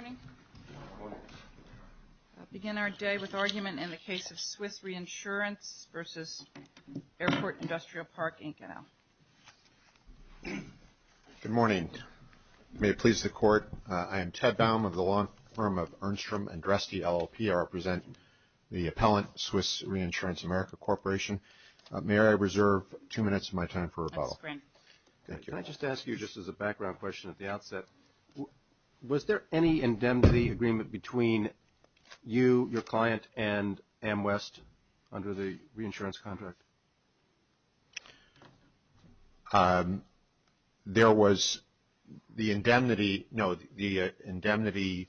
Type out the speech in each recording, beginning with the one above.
I begin our day with argument in the case of Swiss Reinsurance v. Airport Industrial Park, Inconel. Good morning. May it please the Court. I am Ted Baum of the law firm of Ernst & Droste LLP. I represent the appellant, Swiss Reinsurance America Corporation. May I reserve two minutes of my time for rebuttal. Can I just ask you just as a background question at the outset, was there any indemnity agreement between you, your client, and Amwest under the reinsurance contract? There was the indemnity, no, the indemnity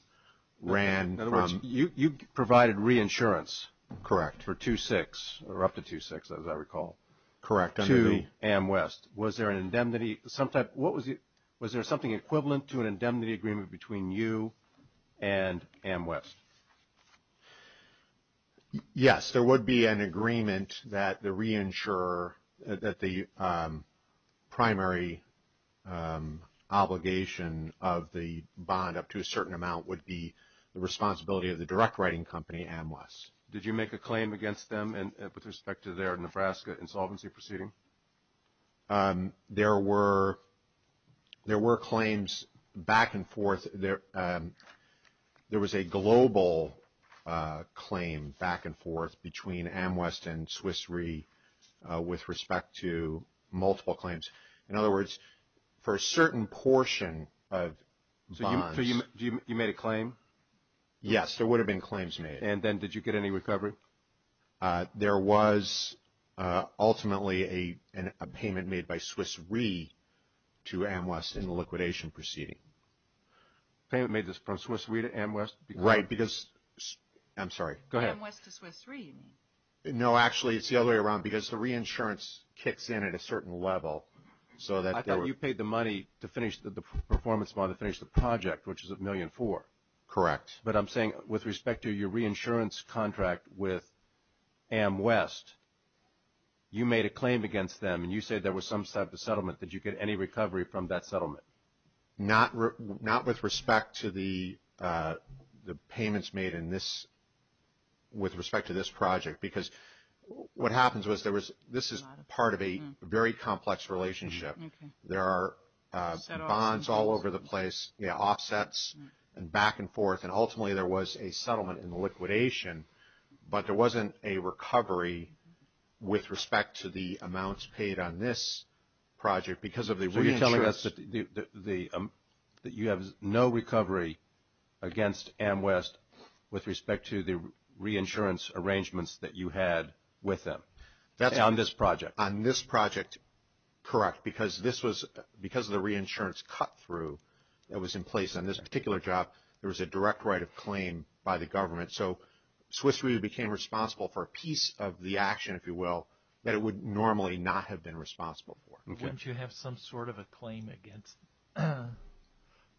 ran from. In other words, you provided reinsurance. Correct. For 2-6 or up to 2-6 as I recall. Correct. To Amwest. Was there an indemnity, was there something equivalent to an indemnity agreement between you and Amwest? Yes, there would be an agreement that the reinsurer, that the primary obligation of the bond up to a certain amount would be the responsibility of the direct writing company, Amwest. Did you make a claim against them with respect to their Nebraska insolvency proceeding? There were claims back and forth. There was a global claim back and forth between Amwest and Swiss Re with respect to multiple claims. In other words, for a certain portion of bonds. So you made a claim? Yes, there would have been claims made. And then did you get any recovery? There was ultimately a payment made by Swiss Re to Amwest in the liquidation proceeding. Payment made from Swiss Re to Amwest? Right, because, I'm sorry, go ahead. Amwest to Swiss Re you mean? No, actually it's the other way around because the reinsurance kicks in at a certain level so that. I thought you paid the money to finish the performance bond to finish the project which is a million four. Correct. But I'm with respect to your reinsurance contract with Amwest, you made a claim against them and you said there was some type of settlement. Did you get any recovery from that settlement? Not with respect to the payments made in this, with respect to this project because what happens was there was, this is part of a very complex relationship. There are bonds all over the place, yeah, offsets and back and forth. And ultimately there was a settlement in the liquidation, but there wasn't a recovery with respect to the amounts paid on this project because of the reinsurance. So you're telling us that you have no recovery against Amwest with respect to the reinsurance arrangements that you had with them on this project? On this project, correct, because this was, because of the reinsurance cut through that was in place on this particular job, there was a direct right of claim by the government. So Swiss Re became responsible for a piece of the action, if you will, that it would normally not have been responsible for. Wouldn't you have some sort of a claim against,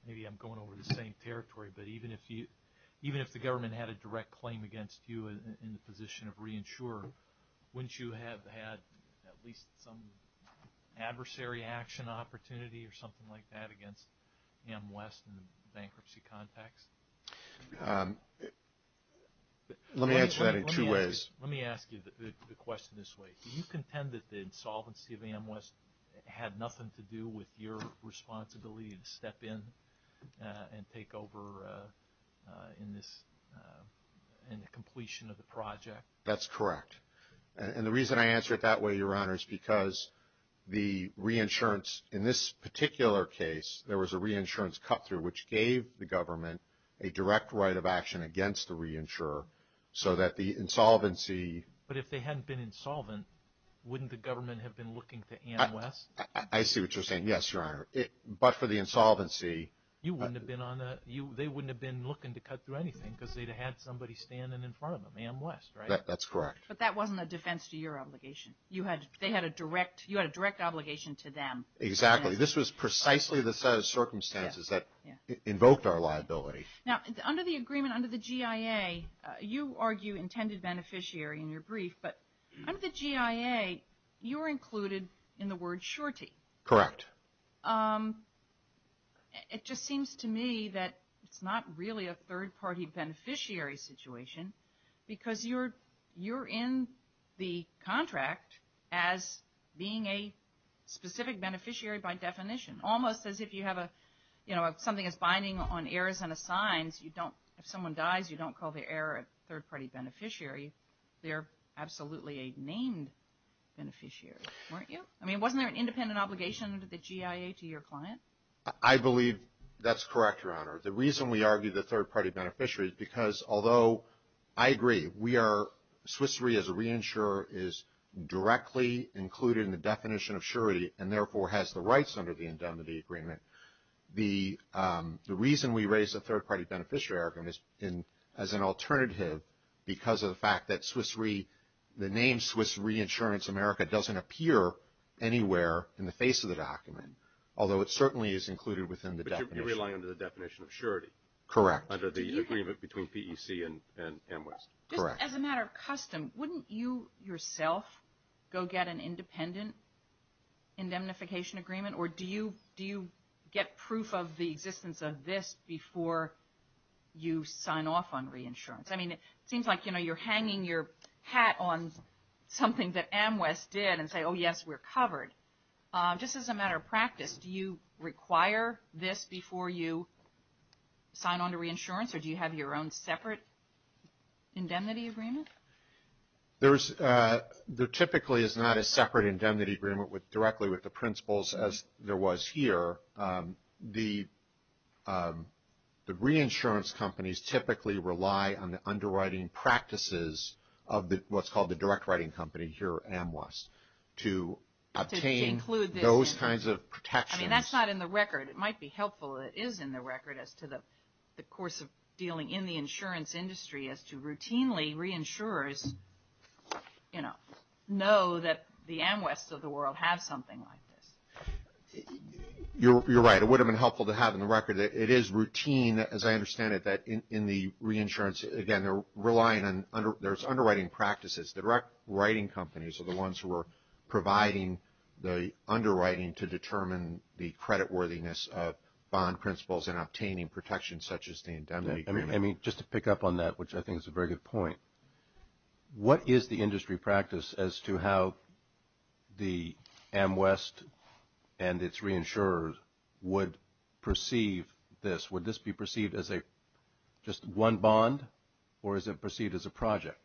maybe I'm going over the same territory, but even if the government had a direct claim against you in the position of reinsurer, wouldn't you have had at least some adversary action opportunity or something like that against Amwest in the bankruptcy context? Let me answer that in two ways. Let me ask you the question this way. Do you contend that the insolvency of Amwest had nothing to do with your responsibility to step in and take over in this, in the compliance completion of the project? That's correct. And the reason I answer it that way, Your Honor, is because the reinsurance, in this particular case, there was a reinsurance cut through which gave the government a direct right of action against the reinsurer so that the insolvency... But if they hadn't been insolvent, wouldn't the government have been looking to Amwest? I see what you're saying. Yes, Your Honor. But for the insolvency... You wouldn't have been on the, they wouldn't have been looking to cut through anything because they'd have had somebody standing in front of them, Amwest, right? That's correct. But that wasn't a defense to your obligation. You had, they had a direct, you had a direct obligation to them. Exactly. This was precisely the set of circumstances that invoked our liability. Now under the agreement, under the GIA, you argue intended beneficiary in your brief, but under the GIA, you were included in the word surety. Correct. It just seems to me that it's not really a third-party beneficiary situation, because you're, you're in the contract as being a specific beneficiary by definition, almost as if you have a, you know, something that's binding on heirs and assigns, you don't, if someone dies, you don't call the heir a third-party beneficiary. They're absolutely a named beneficiary, weren't you? I mean, wasn't there an independent obligation under the GIA to your client? I believe that's correct, Your Honor. The reason we argue the third-party beneficiary is because, although I agree, we are, Swiss Re as a reinsurer is directly included in the definition of surety and therefore has the rights under the indemnity agreement. The reason we raise a third-party beneficiary argument is in, as an alternative because of the fact that Swiss Re, the name Swiss Reinsurance America doesn't appear anywhere in the face of the document, although it certainly is included within the definition. But you're relying on the definition of surety. Correct. Under the agreement between PEC and, and Amwist. Correct. Just as a matter of custom, wouldn't you yourself go get an independent indemnification agreement, or do you, do you get proof of the existence of this before you sign off on reinsurance? I mean, it seems like, you know, you're hanging your hat on something that Amwist did and say, oh yes, we're covered. Just as a matter of practice, do you require this before you sign on to reinsurance, or do you have your own separate indemnity agreement? There's, there typically is not a separate indemnity agreement with, directly with the was here, the, the reinsurance companies typically rely on the underwriting practices of the, what's called the direct writing company here at Amwist to obtain those kinds of protections. I mean, that's not in the record. It might be helpful that it is in the record as to the, the course of dealing in the insurance industry as to routinely reinsurers, you know, that the Amwists of the world have something like this. You're, you're right. It would have been helpful to have in the record. It is routine, as I understand it, that in, in the reinsurance, again, they're relying on under, there's underwriting practices. The direct writing companies are the ones who are providing the underwriting to determine the creditworthiness of bond principles and obtaining protections such as the indemnity agreement. I mean, just to pick up on that, which I think is a very good point. What is the industry practice as to how the Amwist and its reinsurers would perceive this? Would this be perceived as a, just one bond or is it perceived as a project?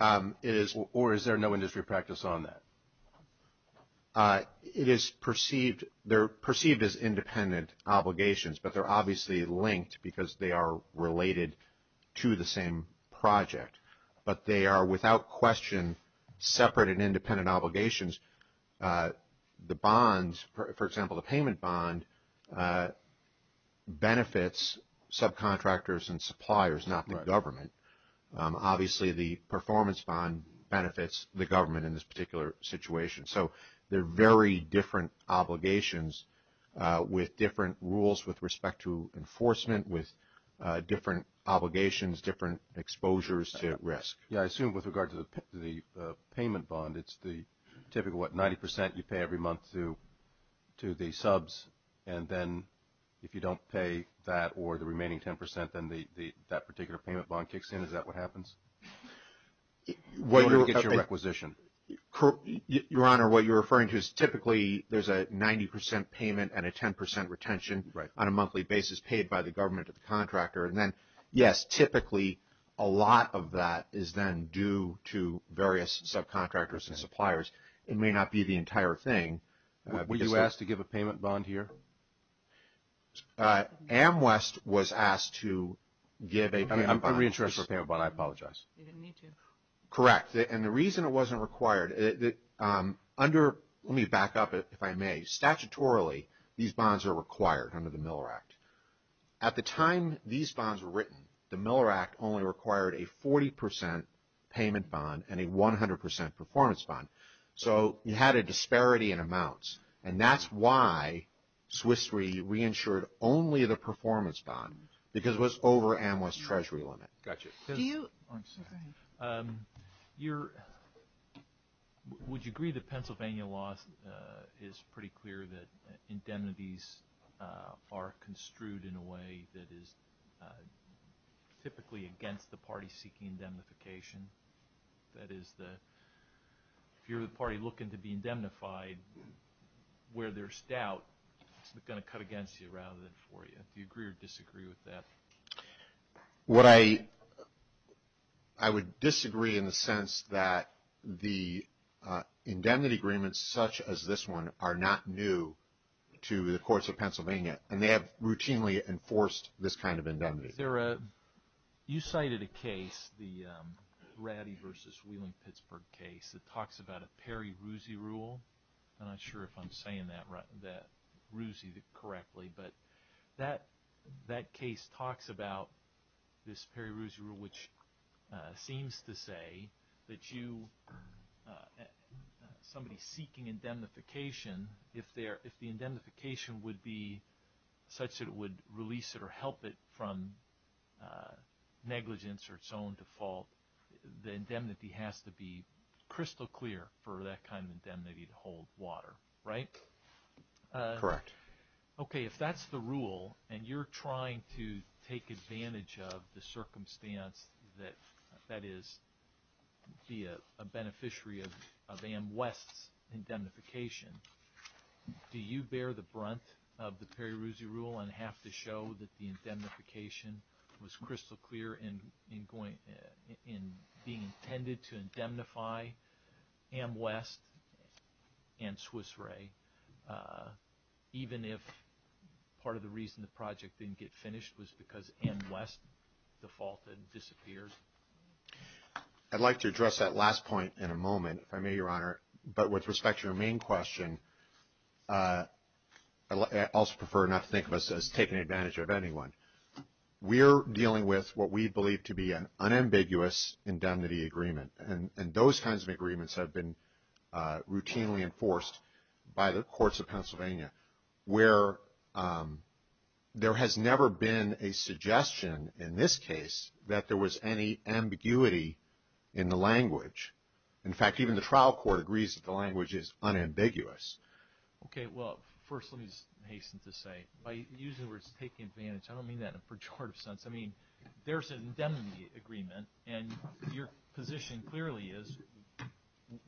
It is, or is there no industry practice on that? It is perceived, they're perceived as independent obligations, but they're obviously linked because they are related to the same project, but they are without question separate and independent obligations. The bonds, for example, the payment bond benefits subcontractors and suppliers, not the government. Obviously the performance bond benefits the government in this particular situation. So they're very different obligations with different rules with respect to enforcement, with different obligations, different exposures to risk. Yeah, I assume with regard to the payment bond, it's the typical, what, 90% you pay every month to the subs, and then if you don't pay that or the remaining 10%, then that particular payment bond kicks in. Is that what happens? When you look at your requisition. Your Honor, what you're referring to is typically there's a 90% payment and a 10% retention on a monthly basis paid by the government to the contractor. And then, yes, typically a lot of that is then due to various subcontractors and suppliers. It may not be the entire thing. Were you asked to give a payment bond here? Amwist was asked to give a payment bond. I'm reinsured for a payment bond, I apologize. You didn't need to. Correct. And the reason it wasn't required, under, let me back up if I may, statutorily these bonds are required under the Miller Act. At the time these bonds were written, the Miller Act only required a 40% payment bond and a 100% performance bond. So you had a disparity in amounts. And that's why Swiss Re reinsured only the performance bond, because it was over Amwist's treasury limit. Would you agree that Pennsylvania law is pretty clear that indemnities are construed in a way that is typically against the party seeking indemnification? That is, if you're the party looking to be indemnified where there's doubt, it's going to cut against you rather than for you. Do you agree or disagree with that? What I, I would disagree in the sense that the indemnity agreements such as this one are not new to the courts of Pennsylvania. And they have routinely enforced this kind of indemnity. Is there a, you cited a case, the Ratty versus Wheelan-Pittsburgh case that talks about a peri-rousie rule. I'm not sure if I'm saying that, that rousie correctly, but that, that case talks about this peri-rousie rule, which seems to say that you, somebody seeking indemnification, if there, if the indemnification would be such that it would release it or help it from negligence or its own default, the indemnity has to be crystal clear for that kind of indemnity to hold water, right? Correct. Okay. If that's the rule and you're trying to take advantage of the circumstance that, that is, be a beneficiary of, of A.M. West's indemnification, do you bear the brunt of the peri-rousie rule and have to show that the indemnification was crystal clear in, in going, in being intended to indemnify A.M. West and Swiss Re, even if part of the reason the project didn't get finished was because A.M. West defaulted and disappeared? I'd like to address that last point in a moment, if I may, Your Honor. But with respect to your main question, I also prefer not to think of us as taking advantage of anyone. We're dealing with what we believe to be an unambiguous indemnity agreement. And, and those kinds of agreements have been routinely enforced by the courts of Pennsylvania where there has never been a suggestion in this case that there was any ambiguity in the language. In fact, even the trial court agrees that the language is unambiguous. Okay. Well, first let me hasten to say, by using the words taking advantage, I don't mean that in a pejorative sense. I mean, there's an indemnity agreement and your position clearly is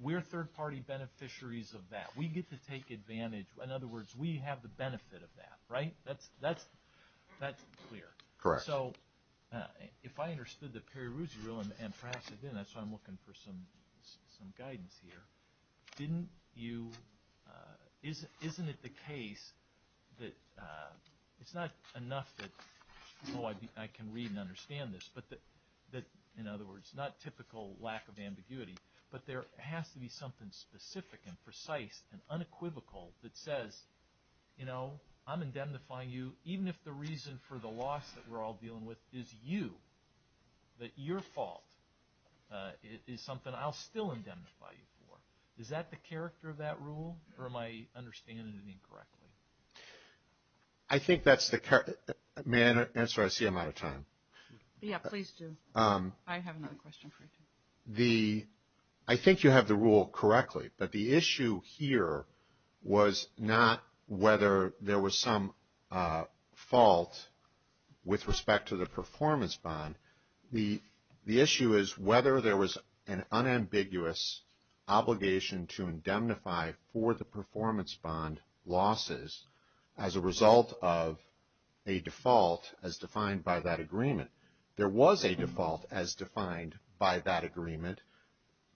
we're third-party beneficiaries of that. We get to take advantage. In other words, we have the benefit of that, right? That's, that's, that's clear. Correct. So, if I understood the Perry-Rousey rule, and perhaps I didn't, that's why I'm looking for some guidance here. Didn't you, isn't it the case that it's not enough that, oh, I can read and understand this, but that, in other words, not typical lack of ambiguity, but there has to be something specific and precise and unequivocal that says, you know, I'm indemnifying you even if the reason for the loss that we're all dealing with is you, that your fault is something I'll still indemnify you for. Is that the character of that rule, or am I understanding it incorrectly? I think that's the, may I answer? I see I'm out of time. Yeah, please do. I have another question for you. The, I think you have the rule correctly, but the issue here was not whether there was some fault with respect to the performance bond. The issue is whether there was an unambiguous obligation to indemnify for the performance bond losses as a result of a default as defined by that agreement. There was a default as defined by that agreement.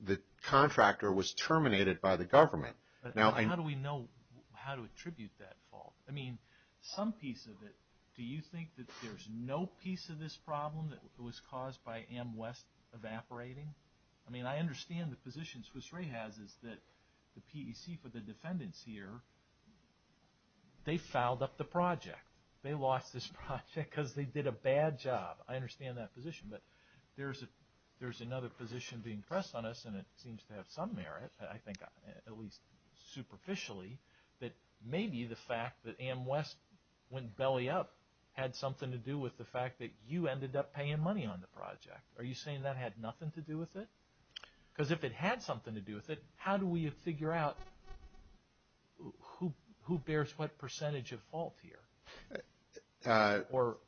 The contractor was terminated by the government. How do we know how to attribute that fault? I mean, some piece of it, do you think that there's no piece of this problem that was caused by AmWest evaporating? I mean, I understand the position Swiss Re has is that the PEC for the defendants here, they fouled up the project. They lost this project because they did a bad job. I understand that position, but there's another position being pressed on us, and it seems to have some merit, I think at least superficially, that maybe the fact that AmWest went belly up had something to do with the fact that you ended up paying money on the project. Are you saying that had nothing to do with it? Because if it had something to do with it, how do we figure out who bears what percentage of fault here? Or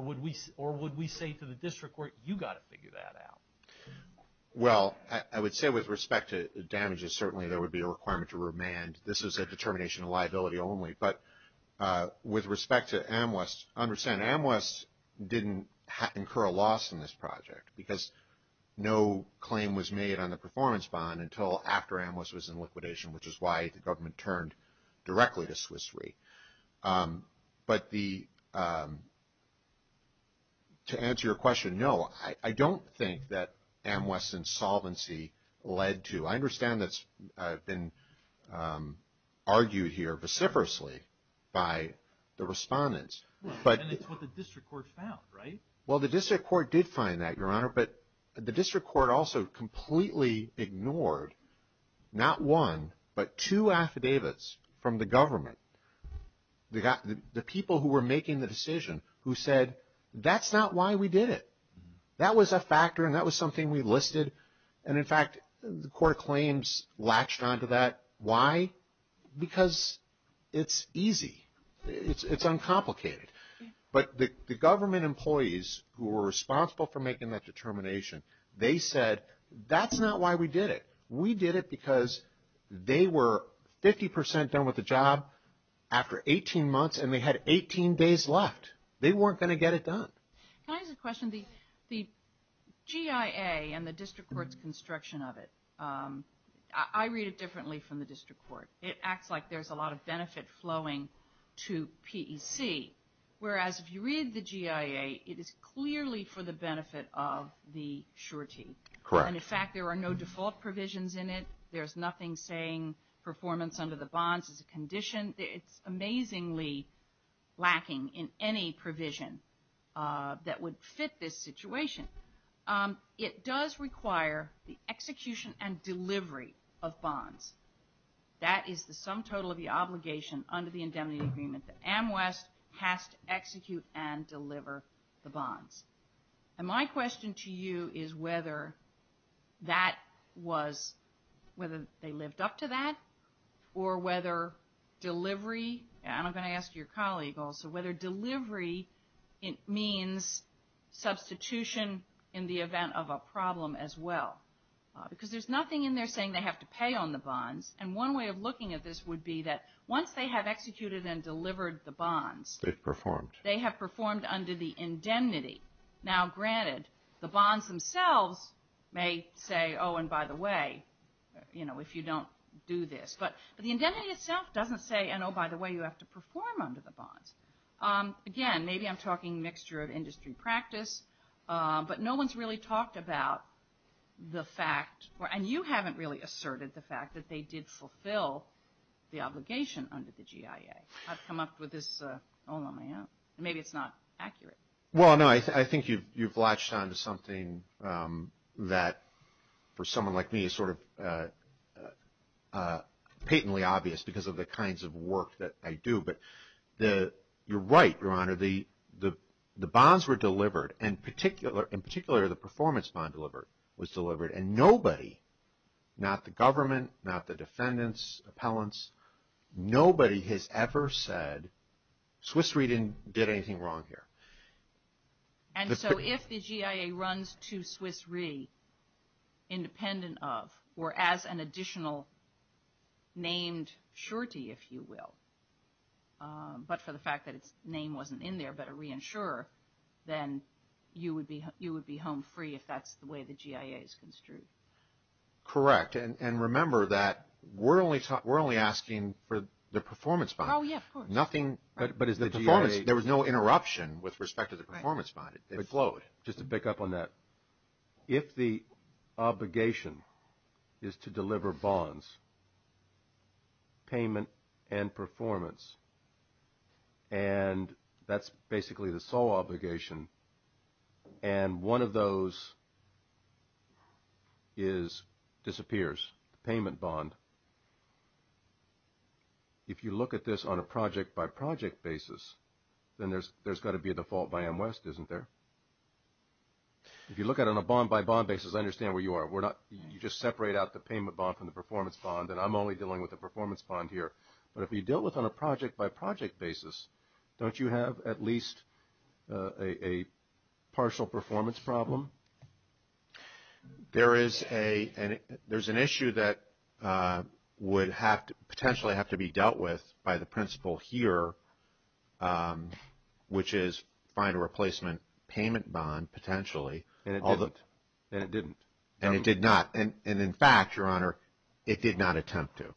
would we say to the district court, you've got to figure that out? Well, I would say with respect to damages, certainly there would be a requirement to remand. This is a determination of liability only. But with respect to AmWest, I understand AmWest didn't incur a loss in this project because no claim was made on the performance bond until after AmWest was in liquidation, which is why the government turned directly to Swiss Re. But to answer your question, no, I don't think that AmWest's insolvency led to. I understand that's been argued here vociferously by the respondents. And it's what the district court found, right? Well, the district court did find that, Your Honor, but the district court also completely ignored not one but two affidavits from the government. The people who were making the decision who said, that's not why we did it. That was a factor, and that was something we listed. And in fact, the court claims latched onto that. Why? Because it's easy. It's uncomplicated. But the government employees who were responsible for making that determination, they said, that's not why we did it. We did it because they were 50 percent done with the job after 18 months, and they had 18 days left. They weren't going to get it done. Can I ask a question? The GIA and the district court's construction of it, I read it differently from the district court. It acts like there's a lot of benefit flowing to PEC, whereas if you read the GIA, it is clearly for the benefit of the surety. Correct. And in fact, there are no default provisions in it. There's nothing saying performance under the bonds is a condition. It's amazingly lacking in any provision that would fit this situation. It does require the execution and delivery of bonds. That is the sum total of the obligation under the indemnity agreement. The AMWES has to execute and deliver the bonds. And my question to you is whether that was they lived up to that or whether delivery, and I'm going to ask your colleague also, whether delivery means substitution in the event of a problem as well. Because there's nothing in there saying they have to pay on the bonds. And one way of looking at this would be that once they have executed and delivered the bonds. They've performed. They have performed under the indemnity. Now, granted, the bonds themselves may say, oh, and by the way, you know, if you don't do this. But the indemnity itself doesn't say, and oh, by the way, you have to perform under the bonds. Again, maybe I'm talking mixture of industry practice, but no one's really talked about the fact, and you haven't really asserted the fact that they did fulfill the obligation under the GIA. I've come up with this all on my own. Maybe it's not accurate. Well, no, I think you've latched onto something that for someone like me is sort of patently obvious because of the kinds of work that I do. But you're right, Your Honor. The bonds were delivered, in particular the performance bond was delivered, and nobody, not the government, not the defendants, appellants, nobody has ever said Swiss Re didn't do anything wrong here. And so if the GIA runs to Swiss Re independent of or as an additional named surety, if you will, but for the fact that its name wasn't in there but a reinsurer, then you would be home free if that's the way the GIA is construed. Correct. And remember that we're only asking for the performance bond. Oh, yeah, of course. Nothing, but as the performance, there was no interruption with respect to the performance bond. It flowed. Just to pick up on that, if the obligation is to deliver bonds. Payment and performance. And that's basically the sole obligation. And one of those. Is disappears payment bond. If you look at this on a project-by-project basis, then there's got to be a default by M-West, isn't there? If you look at it on a bond-by-bond basis, I understand where you are. You just separate out the payment bond from the performance bond, and I'm only dealing with the performance bond here. But if you deal with it on a project-by-project basis, don't you have at least a partial performance problem? There is an issue that would potentially have to be dealt with by the principal here, which is find a replacement payment bond potentially. And it didn't. And it did not. And in fact, Your Honor, it did not attempt to.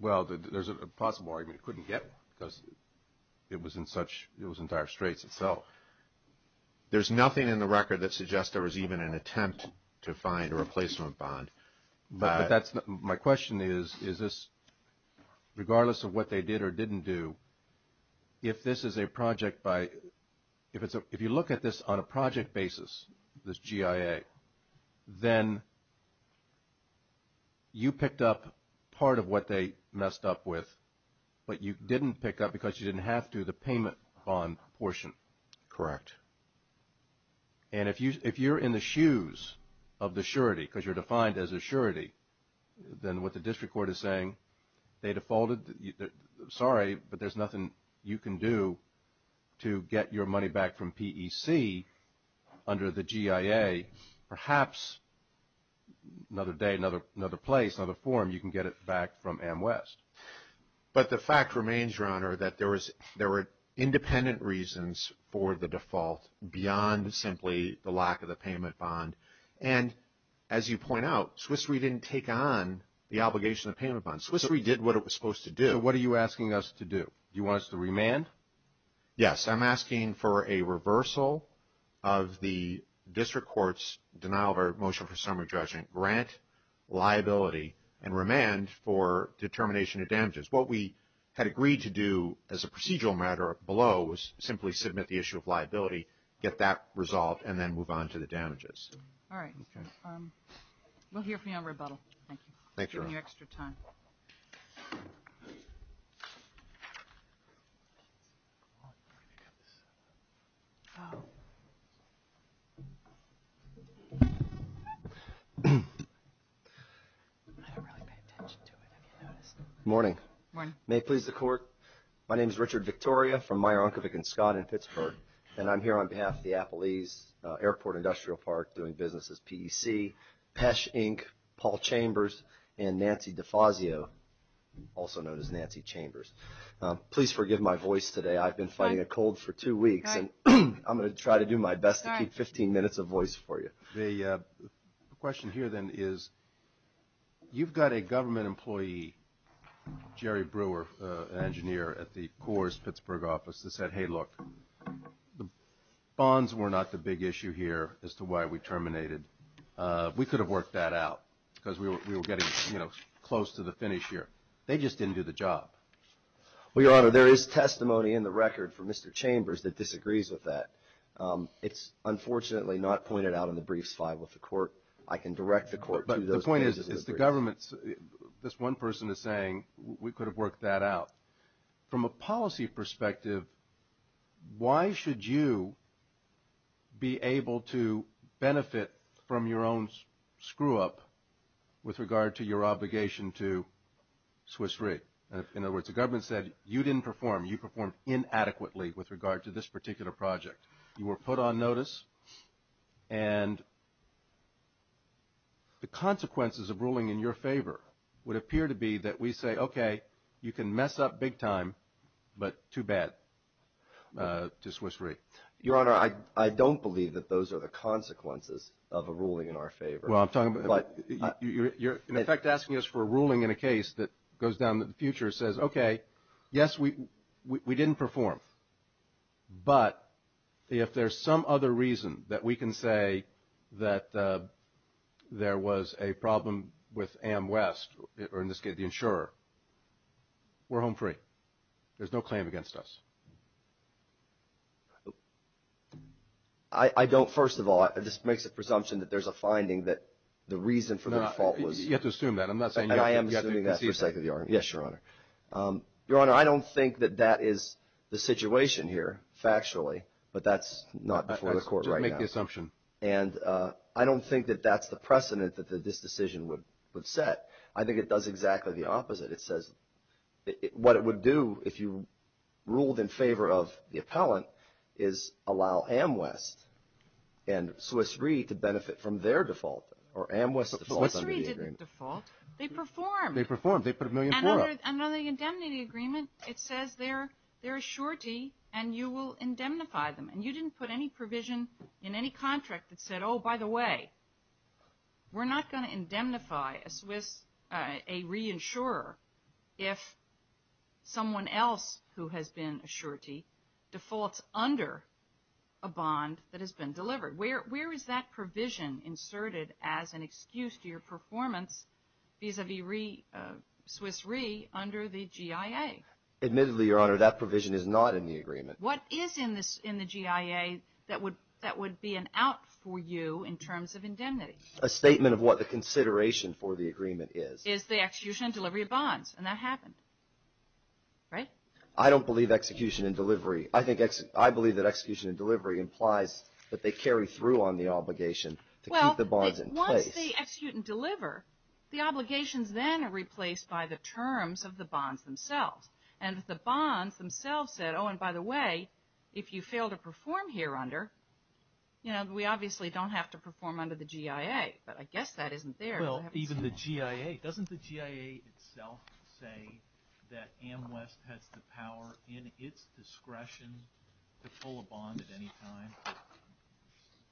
Well, there's a possible argument it couldn't get one because it was in dire straits itself. There's nothing in the record that suggests there was even an attempt to find a replacement bond. But my question is, is this regardless of what they did or didn't do, if this is a project by – if you look at this on a project basis, this GIA, then you picked up part of what they messed up with, but you didn't pick up because you didn't have to the payment bond portion. Correct. And if you're in the shoes of the surety, because you're defined as a surety, then what the district court is saying, they defaulted. Sorry, but there's nothing you can do to get your money back from PEC under the GIA. Perhaps another day, another place, another forum, you can get it back from AmWest. But the fact remains, Your Honor, that there were independent reasons for the default beyond simply the lack of the payment bond. And as you point out, Swiss Re didn't take on the obligation of payment bonds. Swiss Re did what it was supposed to do. So what are you asking us to do? Do you want us to remand? Yes, I'm asking for a reversal of the district court's denial of our motion for summary judgment, grant liability, and remand for determination of damages. What we had agreed to do as a procedural matter below was simply submit the issue of liability, get that resolved, and then move on to the damages. All right. Okay. We'll hear from you on rebuttal. Thank you. Thank you, Your Honor. Thank you for your extra time. Morning. Morning. May it please the Court, my name is Richard Victoria from Meyer, Unkavik & Scott in Pittsburgh, and I'm here on behalf of the Appalese Airport Industrial Park doing business as PEC, Pesh, Inc., Paul Chambers, and Nancy DeFazio, also known as Nancy Chambers. Please forgive my voice today. I've been fighting a cold for two weeks, and I'm going to try to do my best to keep 15 minutes of voice for you. The question here, then, is you've got a government employee, Jerry Brewer, an engineer at the Corps' Pittsburgh office that said, hey, look, the bonds were not the big issue here as to why we terminated. We could have worked that out because we were getting, you know, close to the finish here. They just didn't do the job. Well, Your Honor, there is testimony in the record from Mr. Chambers that disagrees with that. It's unfortunately not pointed out in the briefs filed with the Court. I can direct the Court to those cases. This one person is saying we could have worked that out. From a policy perspective, why should you be able to benefit from your own screw-up with regard to your obligation to Swiss Re? In other words, the government said you didn't perform. You performed inadequately with regard to this particular project. You were put on notice, and the consequences of ruling in your favor would appear to be that we say, okay, you can mess up big time, but too bad to Swiss Re. Your Honor, I don't believe that those are the consequences of a ruling in our favor. Well, I'm talking about you're, in effect, asking us for a ruling in a case that goes down to the future and says, okay, Yes, we didn't perform, but if there's some other reason that we can say that there was a problem with AmWest, or in this case the insurer, we're home free. There's no claim against us. I don't, first of all, this makes a presumption that there's a finding that the reason for the default was. You have to assume that. I'm not saying you have to concede that. And I am assuming that for the sake of the argument. Yes, Your Honor. Your Honor, I don't think that that is the situation here, factually, but that's not before the court right now. Just make the assumption. And I don't think that that's the precedent that this decision would set. I think it does exactly the opposite. It says what it would do if you ruled in favor of the appellant is allow AmWest and Swiss Re. to benefit from their default, or AmWest default under the agreement. Swiss Re. didn't default. They performed. They performed. They put a million for us. Under the indemnity agreement, it says they're a surety and you will indemnify them. And you didn't put any provision in any contract that said, oh, by the way, we're not going to indemnify a Swiss Re. insurer if someone else who has been a surety defaults under a bond that has been delivered. Where is that provision inserted as an excuse to your performance vis-à-vis Swiss Re. under the GIA? Admittedly, Your Honor, that provision is not in the agreement. What is in the GIA that would be an out for you in terms of indemnity? A statement of what the consideration for the agreement is. Is the execution and delivery of bonds. And that happened. Right? I don't believe execution and delivery. I believe that execution and delivery implies that they carry through on the obligation to keep the bonds in place. Well, once they execute and deliver, the obligations then are replaced by the terms of the bonds themselves. And the bonds themselves said, oh, and by the way, if you fail to perform here under, you know, we obviously don't have to perform under the GIA. But I guess that isn't there. Well, even the GIA. Doesn't the GIA itself say that AMWES has the power in its discretion to pull a bond at any time,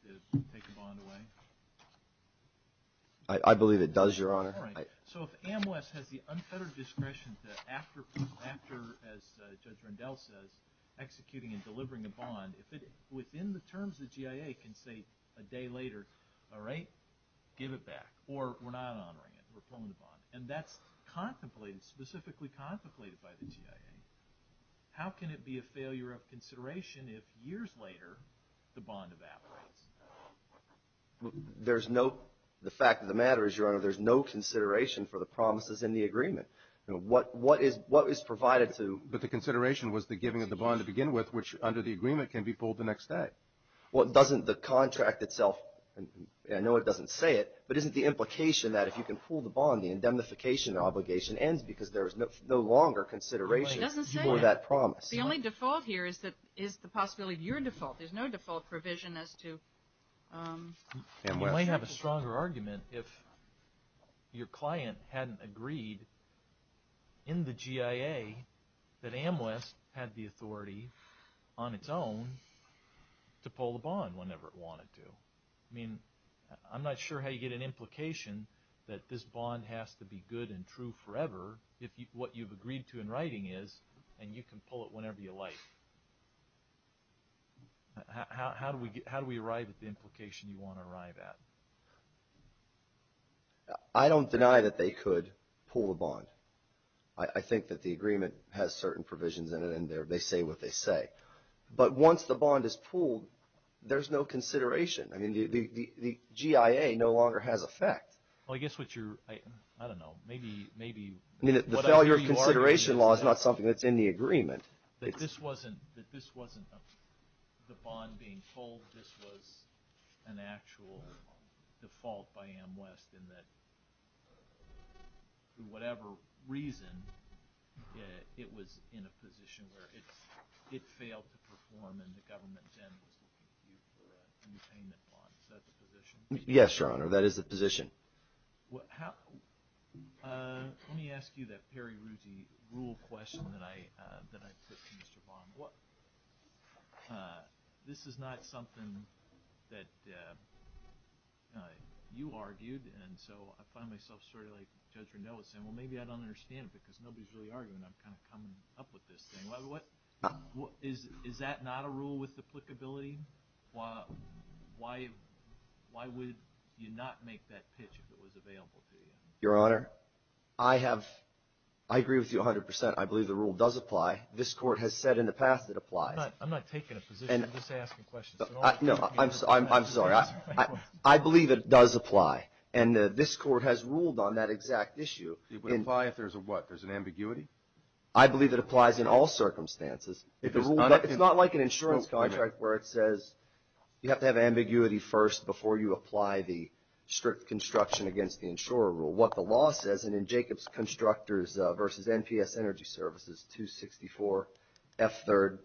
to take a bond away? I believe it does, Your Honor. So if AMWES has the unfettered discretion to after, as Judge Rendell says, executing and delivering a bond, if it within the terms of the GIA can say a day later, all right, give it back, or we're not honoring it. We're pulling the bond. And that's contemplated, specifically contemplated by the GIA. How can it be a failure of consideration if years later the bond evaporates? There's no – the fact of the matter is, Your Honor, there's no consideration for the promises in the agreement. What is provided to – But the consideration was the giving of the bond to begin with, which under the agreement can be pulled the next day. Well, doesn't the contract itself – I know it doesn't say it, but isn't the implication that if you can pull the bond the indemnification obligation ends because there is no longer consideration for that promise? It doesn't say that. The only default here is the possibility of your default. There's no default provision as to – You might have a stronger argument if your client hadn't agreed in the GIA that AMWES had the authority on its own to pull the bond whenever it wanted to. I mean, I'm not sure how you get an implication that this bond has to be good and true forever if what you've agreed to in writing is, and you can pull it whenever you like. How do we arrive at the implication you want to arrive at? I don't deny that they could pull the bond. I think that the agreement has certain provisions in it, and they say what they say. But once the bond is pulled, there's no consideration. I mean, the GIA no longer has effect. Well, I guess what you're – I don't know. Maybe – I mean, the failure of consideration law is not something that's in the agreement. But this wasn't the bond being pulled. This was an actual default by AMWES in that, for whatever reason, it was in a position where it failed to perform, and the government then was looking to you for a new payment bond. Is that the position? That is the position. Let me ask you that Perry Rousey rule question that I put to Mr. Bond. This is not something that you argued, and so I find myself sort of like Judge Rendeau is saying, well, maybe I don't understand it because nobody's really arguing. I'm kind of coming up with this thing. Is that not a rule with applicability? Why would you not make that pitch if it was available to you? Your Honor, I have – I agree with you 100%. I believe the rule does apply. This Court has said in the past it applies. I'm not taking a position. I'm just asking questions. No, I'm sorry. I believe it does apply, and this Court has ruled on that exact issue. It would apply if there's a what? There's an ambiguity? I believe it applies in all circumstances. It's not like an insurance contract where it says you have to have ambiguity first before you apply the strict construction against the insurer rule. What the law says, and in Jacobs Constructors v. NPS Energy Services 264 F3rd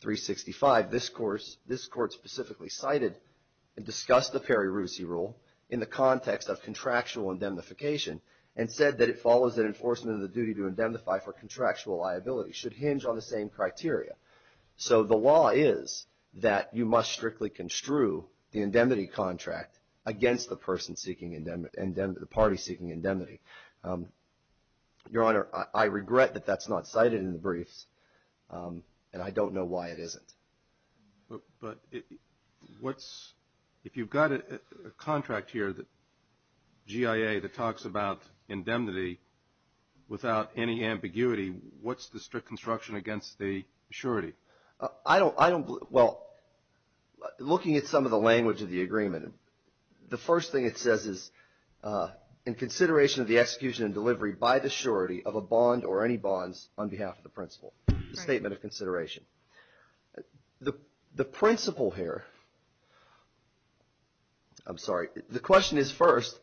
365, this Court specifically cited and discussed the Perry Rousey rule in the context of contractual indemnification and said that it follows that enforcement of the duty to indemnify for contractual liability should hinge on the same criteria. So the law is that you must strictly construe the indemnity contract against the party seeking indemnity. Your Honor, I regret that that's not cited in the briefs, and I don't know why it isn't. But if you've got a contract here, GIA, that talks about indemnity without any ambiguity, what's the strict construction against the surety? Well, looking at some of the language of the agreement, the first thing it says is in consideration of the execution and delivery by the surety of a bond or any bonds on behalf of the principal, the statement of consideration. The principle here, I'm sorry, the question is first,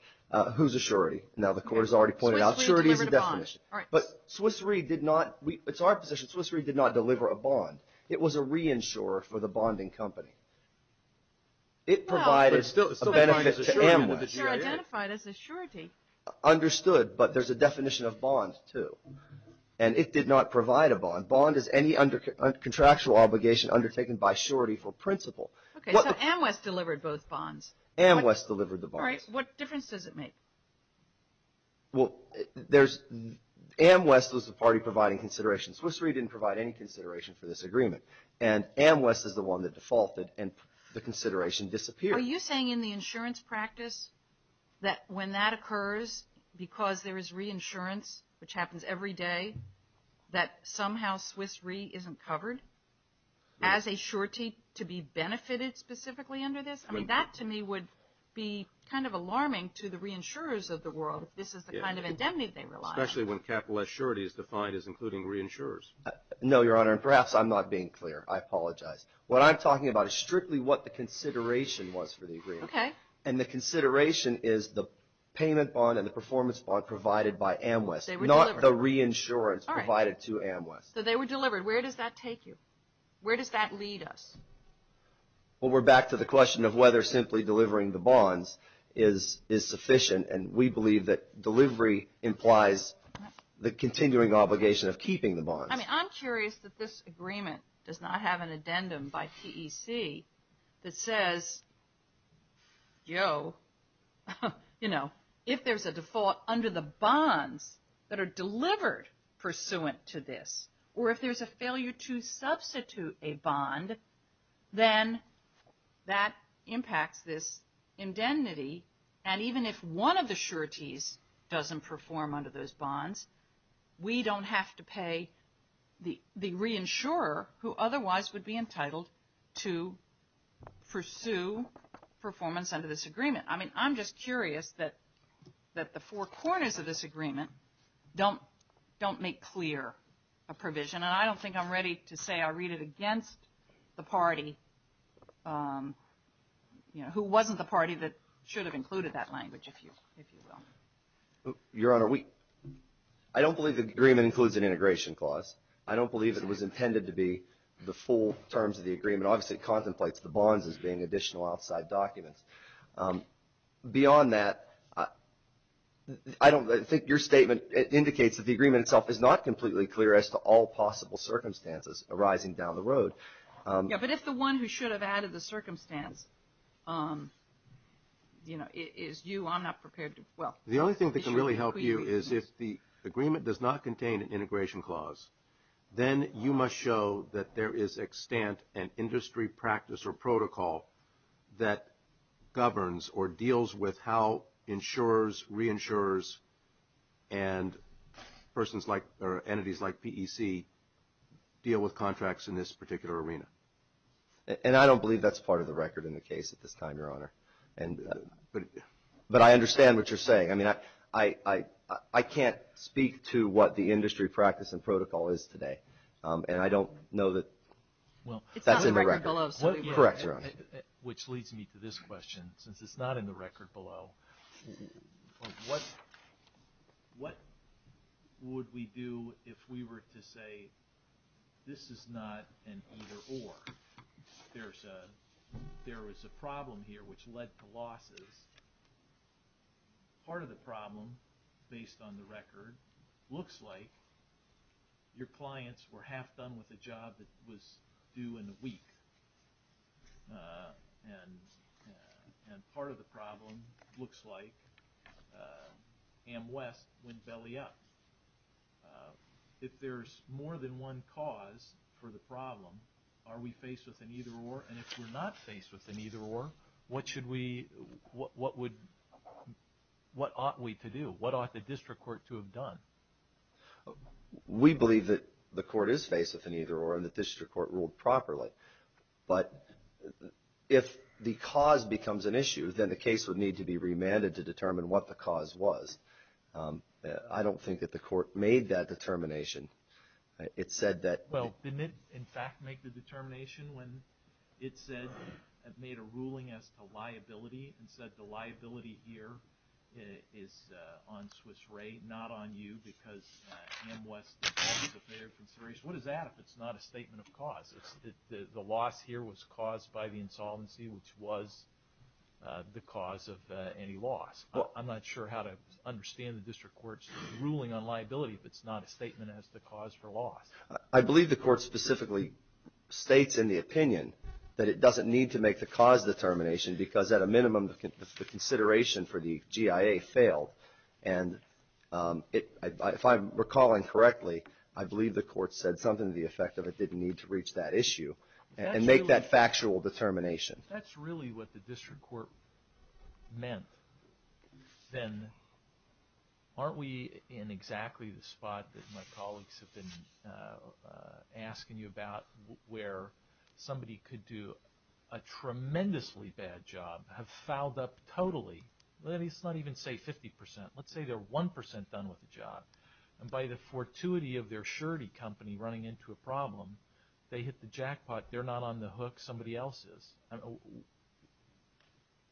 who's a surety? Now, the Court has already pointed out surety is a definition. All right. But Swiss Re did not, it's our position, Swiss Re did not deliver a bond. It was a reinsurer for the bonding company. It provided a benefit to Amwes. No, but it's still identified as a surety. Understood, but there's a definition of bonds too. And it did not provide a bond. Bond is any contractual obligation undertaken by surety for principal. Okay, so Amwes delivered both bonds. Amwes delivered the bonds. All right, what difference does it make? Well, Amwes was the party providing consideration. Swiss Re didn't provide any consideration for this agreement. And Amwes is the one that defaulted and the consideration disappeared. Are you saying in the insurance practice that when that occurs because there is reinsurance, which happens every day, that somehow Swiss Re isn't covered as a surety to be benefited specifically under this? I mean, that to me would be kind of alarming to the reinsurers of the world if this is the kind of indemnity they rely on. Especially when capitalist surety is defined as including reinsurers. No, Your Honor, and perhaps I'm not being clear. I apologize. What I'm talking about is strictly what the consideration was for the agreement. Okay. And the consideration is the payment bond and the performance bond provided by Amwes. They were delivered. Not the reinsurance provided to Amwes. So they were delivered. Where does that take you? Where does that lead us? Well, we're back to the question of whether simply delivering the bonds is sufficient. And we believe that delivery implies the continuing obligation of keeping the bonds. I mean, I'm curious that this agreement does not have an addendum by TEC that says, yo, you know, if there's a default under the bonds that are delivered pursuant to this, or if there's a failure to substitute a bond, then that impacts this indemnity. And even if one of the sureties doesn't perform under those bonds, we don't have to pay the reinsurer who otherwise would be entitled to pursue performance under this agreement. I mean, I'm just curious that the four corners of this agreement don't make clear a provision. And I don't think I'm ready to say I read it against the party, you know, who wasn't the party that should have included that language, if you will. Your Honor, I don't believe the agreement includes an integration clause. I don't believe it was intended to be the full terms of the agreement. Obviously, it contemplates the bonds as being additional outside documents. Beyond that, I don't think your statement indicates that the agreement itself is not completely clear as to all possible circumstances arising down the road. Yeah, but if the one who should have added the circumstance, you know, is you, I'm not prepared to, well. The only thing that can really help you is if the agreement does not contain an integration clause, then you must show that there is extant an industry practice or protocol that governs or deals with how insurers, reinsurers, and persons like, or entities like PEC, deal with contracts in this particular arena. And I don't believe that's part of the record in the case at this time, Your Honor. But I understand what you're saying. I mean, I can't speak to what the industry practice and protocol is today. And I don't know that that's in my record. Well, it's not in the record below. Correct, Your Honor. Which leads me to this question. Since it's not in the record below, what would we do if we were to say this is not an either-or? There is a problem here which led to losses. Part of the problem, based on the record, looks like your clients were half done with a job that was due in a week. And part of the problem looks like AmWest went belly up. If there's more than one cause for the problem, are we faced with an either-or? And if we're not faced with an either-or, what ought we to do? What ought the district court to have done? We believe that the court is faced with an either-or and the district court ruled properly. But if the cause becomes an issue, then the case would need to be remanded to determine what the cause was. I don't think that the court made that determination. Well, didn't it, in fact, make the determination when it said it made a ruling as to liability and said the liability here is on Swiss Re, not on you, because AmWest is a failure of consideration? What is that if it's not a statement of cause? The loss here was caused by the insolvency, which was the cause of any loss. I'm not sure how to understand the district court's ruling on liability if it's not a statement as to cause for loss. I believe the court specifically states in the opinion that it doesn't need to make the cause determination because at a minimum the consideration for the GIA failed. And if I'm recalling correctly, I believe the court said something to the effect of it didn't need to reach that issue and make that factual determination. If that's really what the district court meant, then aren't we in exactly the spot that my colleagues have been asking you about where somebody could do a tremendously bad job, have fouled up totally, let's not even say 50%, let's say they're 1% done with the job, and by the fortuity of their surety company running into a problem, they hit the jackpot, they're not on the hook, somebody else is.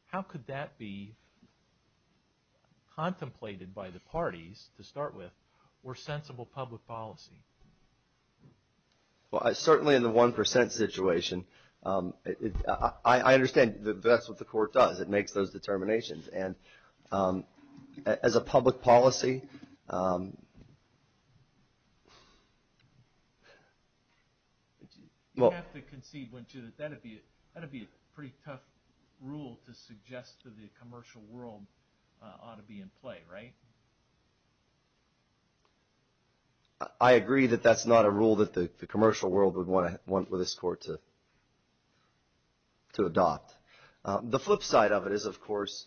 How could that be contemplated by the parties to start with or sensible public policy? Well, certainly in the 1% situation, I understand that that's what the court does. It makes those determinations. And as a public policy... You have to concede, wouldn't you, that that would be a pretty tough rule to suggest that the commercial world ought to be in play, right? I agree that that's not a rule that the commercial world would want this court to adopt. The flip side of it is, of course,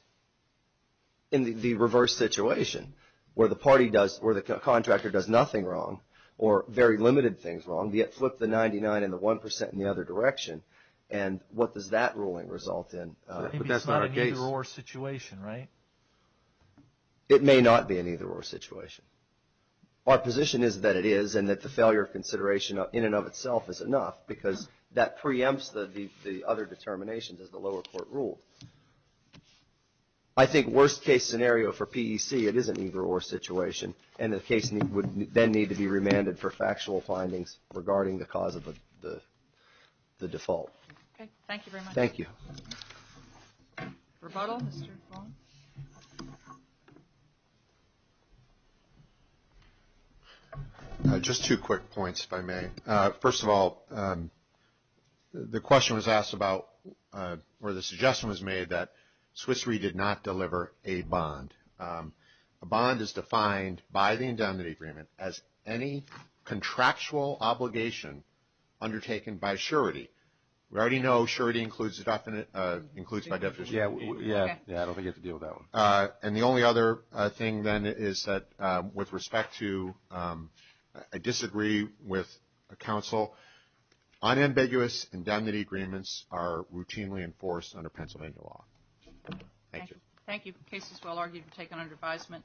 in the reverse situation, where the contractor does nothing wrong or very limited things wrong, yet flip the 99 and the 1% in the other direction. And what does that ruling result in? Maybe it's not an either-or situation, right? It may not be an either-or situation. Our position is that it is and that the failure of consideration in and of itself is enough because that preempts the other determinations as the lower court ruled. I think worst-case scenario for PEC, it is an either-or situation, and the case would then need to be remanded for factual findings regarding the cause of the default. Okay. Thank you very much. Thank you. Rebuttal, Mr. Fong? Just two quick points, if I may. First of all, the question was asked about, or the suggestion was made that Swiss Re did not deliver a bond. A bond is defined by the indemnity agreement as any contractual obligation undertaken by surety. We already know surety includes by definition. Yeah, I don't think you have to deal with that one. And the only other thing, then, is that with respect to a disagree with a counsel, unambiguous indemnity agreements are routinely enforced under Pennsylvania law. Thank you. Thank you. The case is well argued and taken under advisement.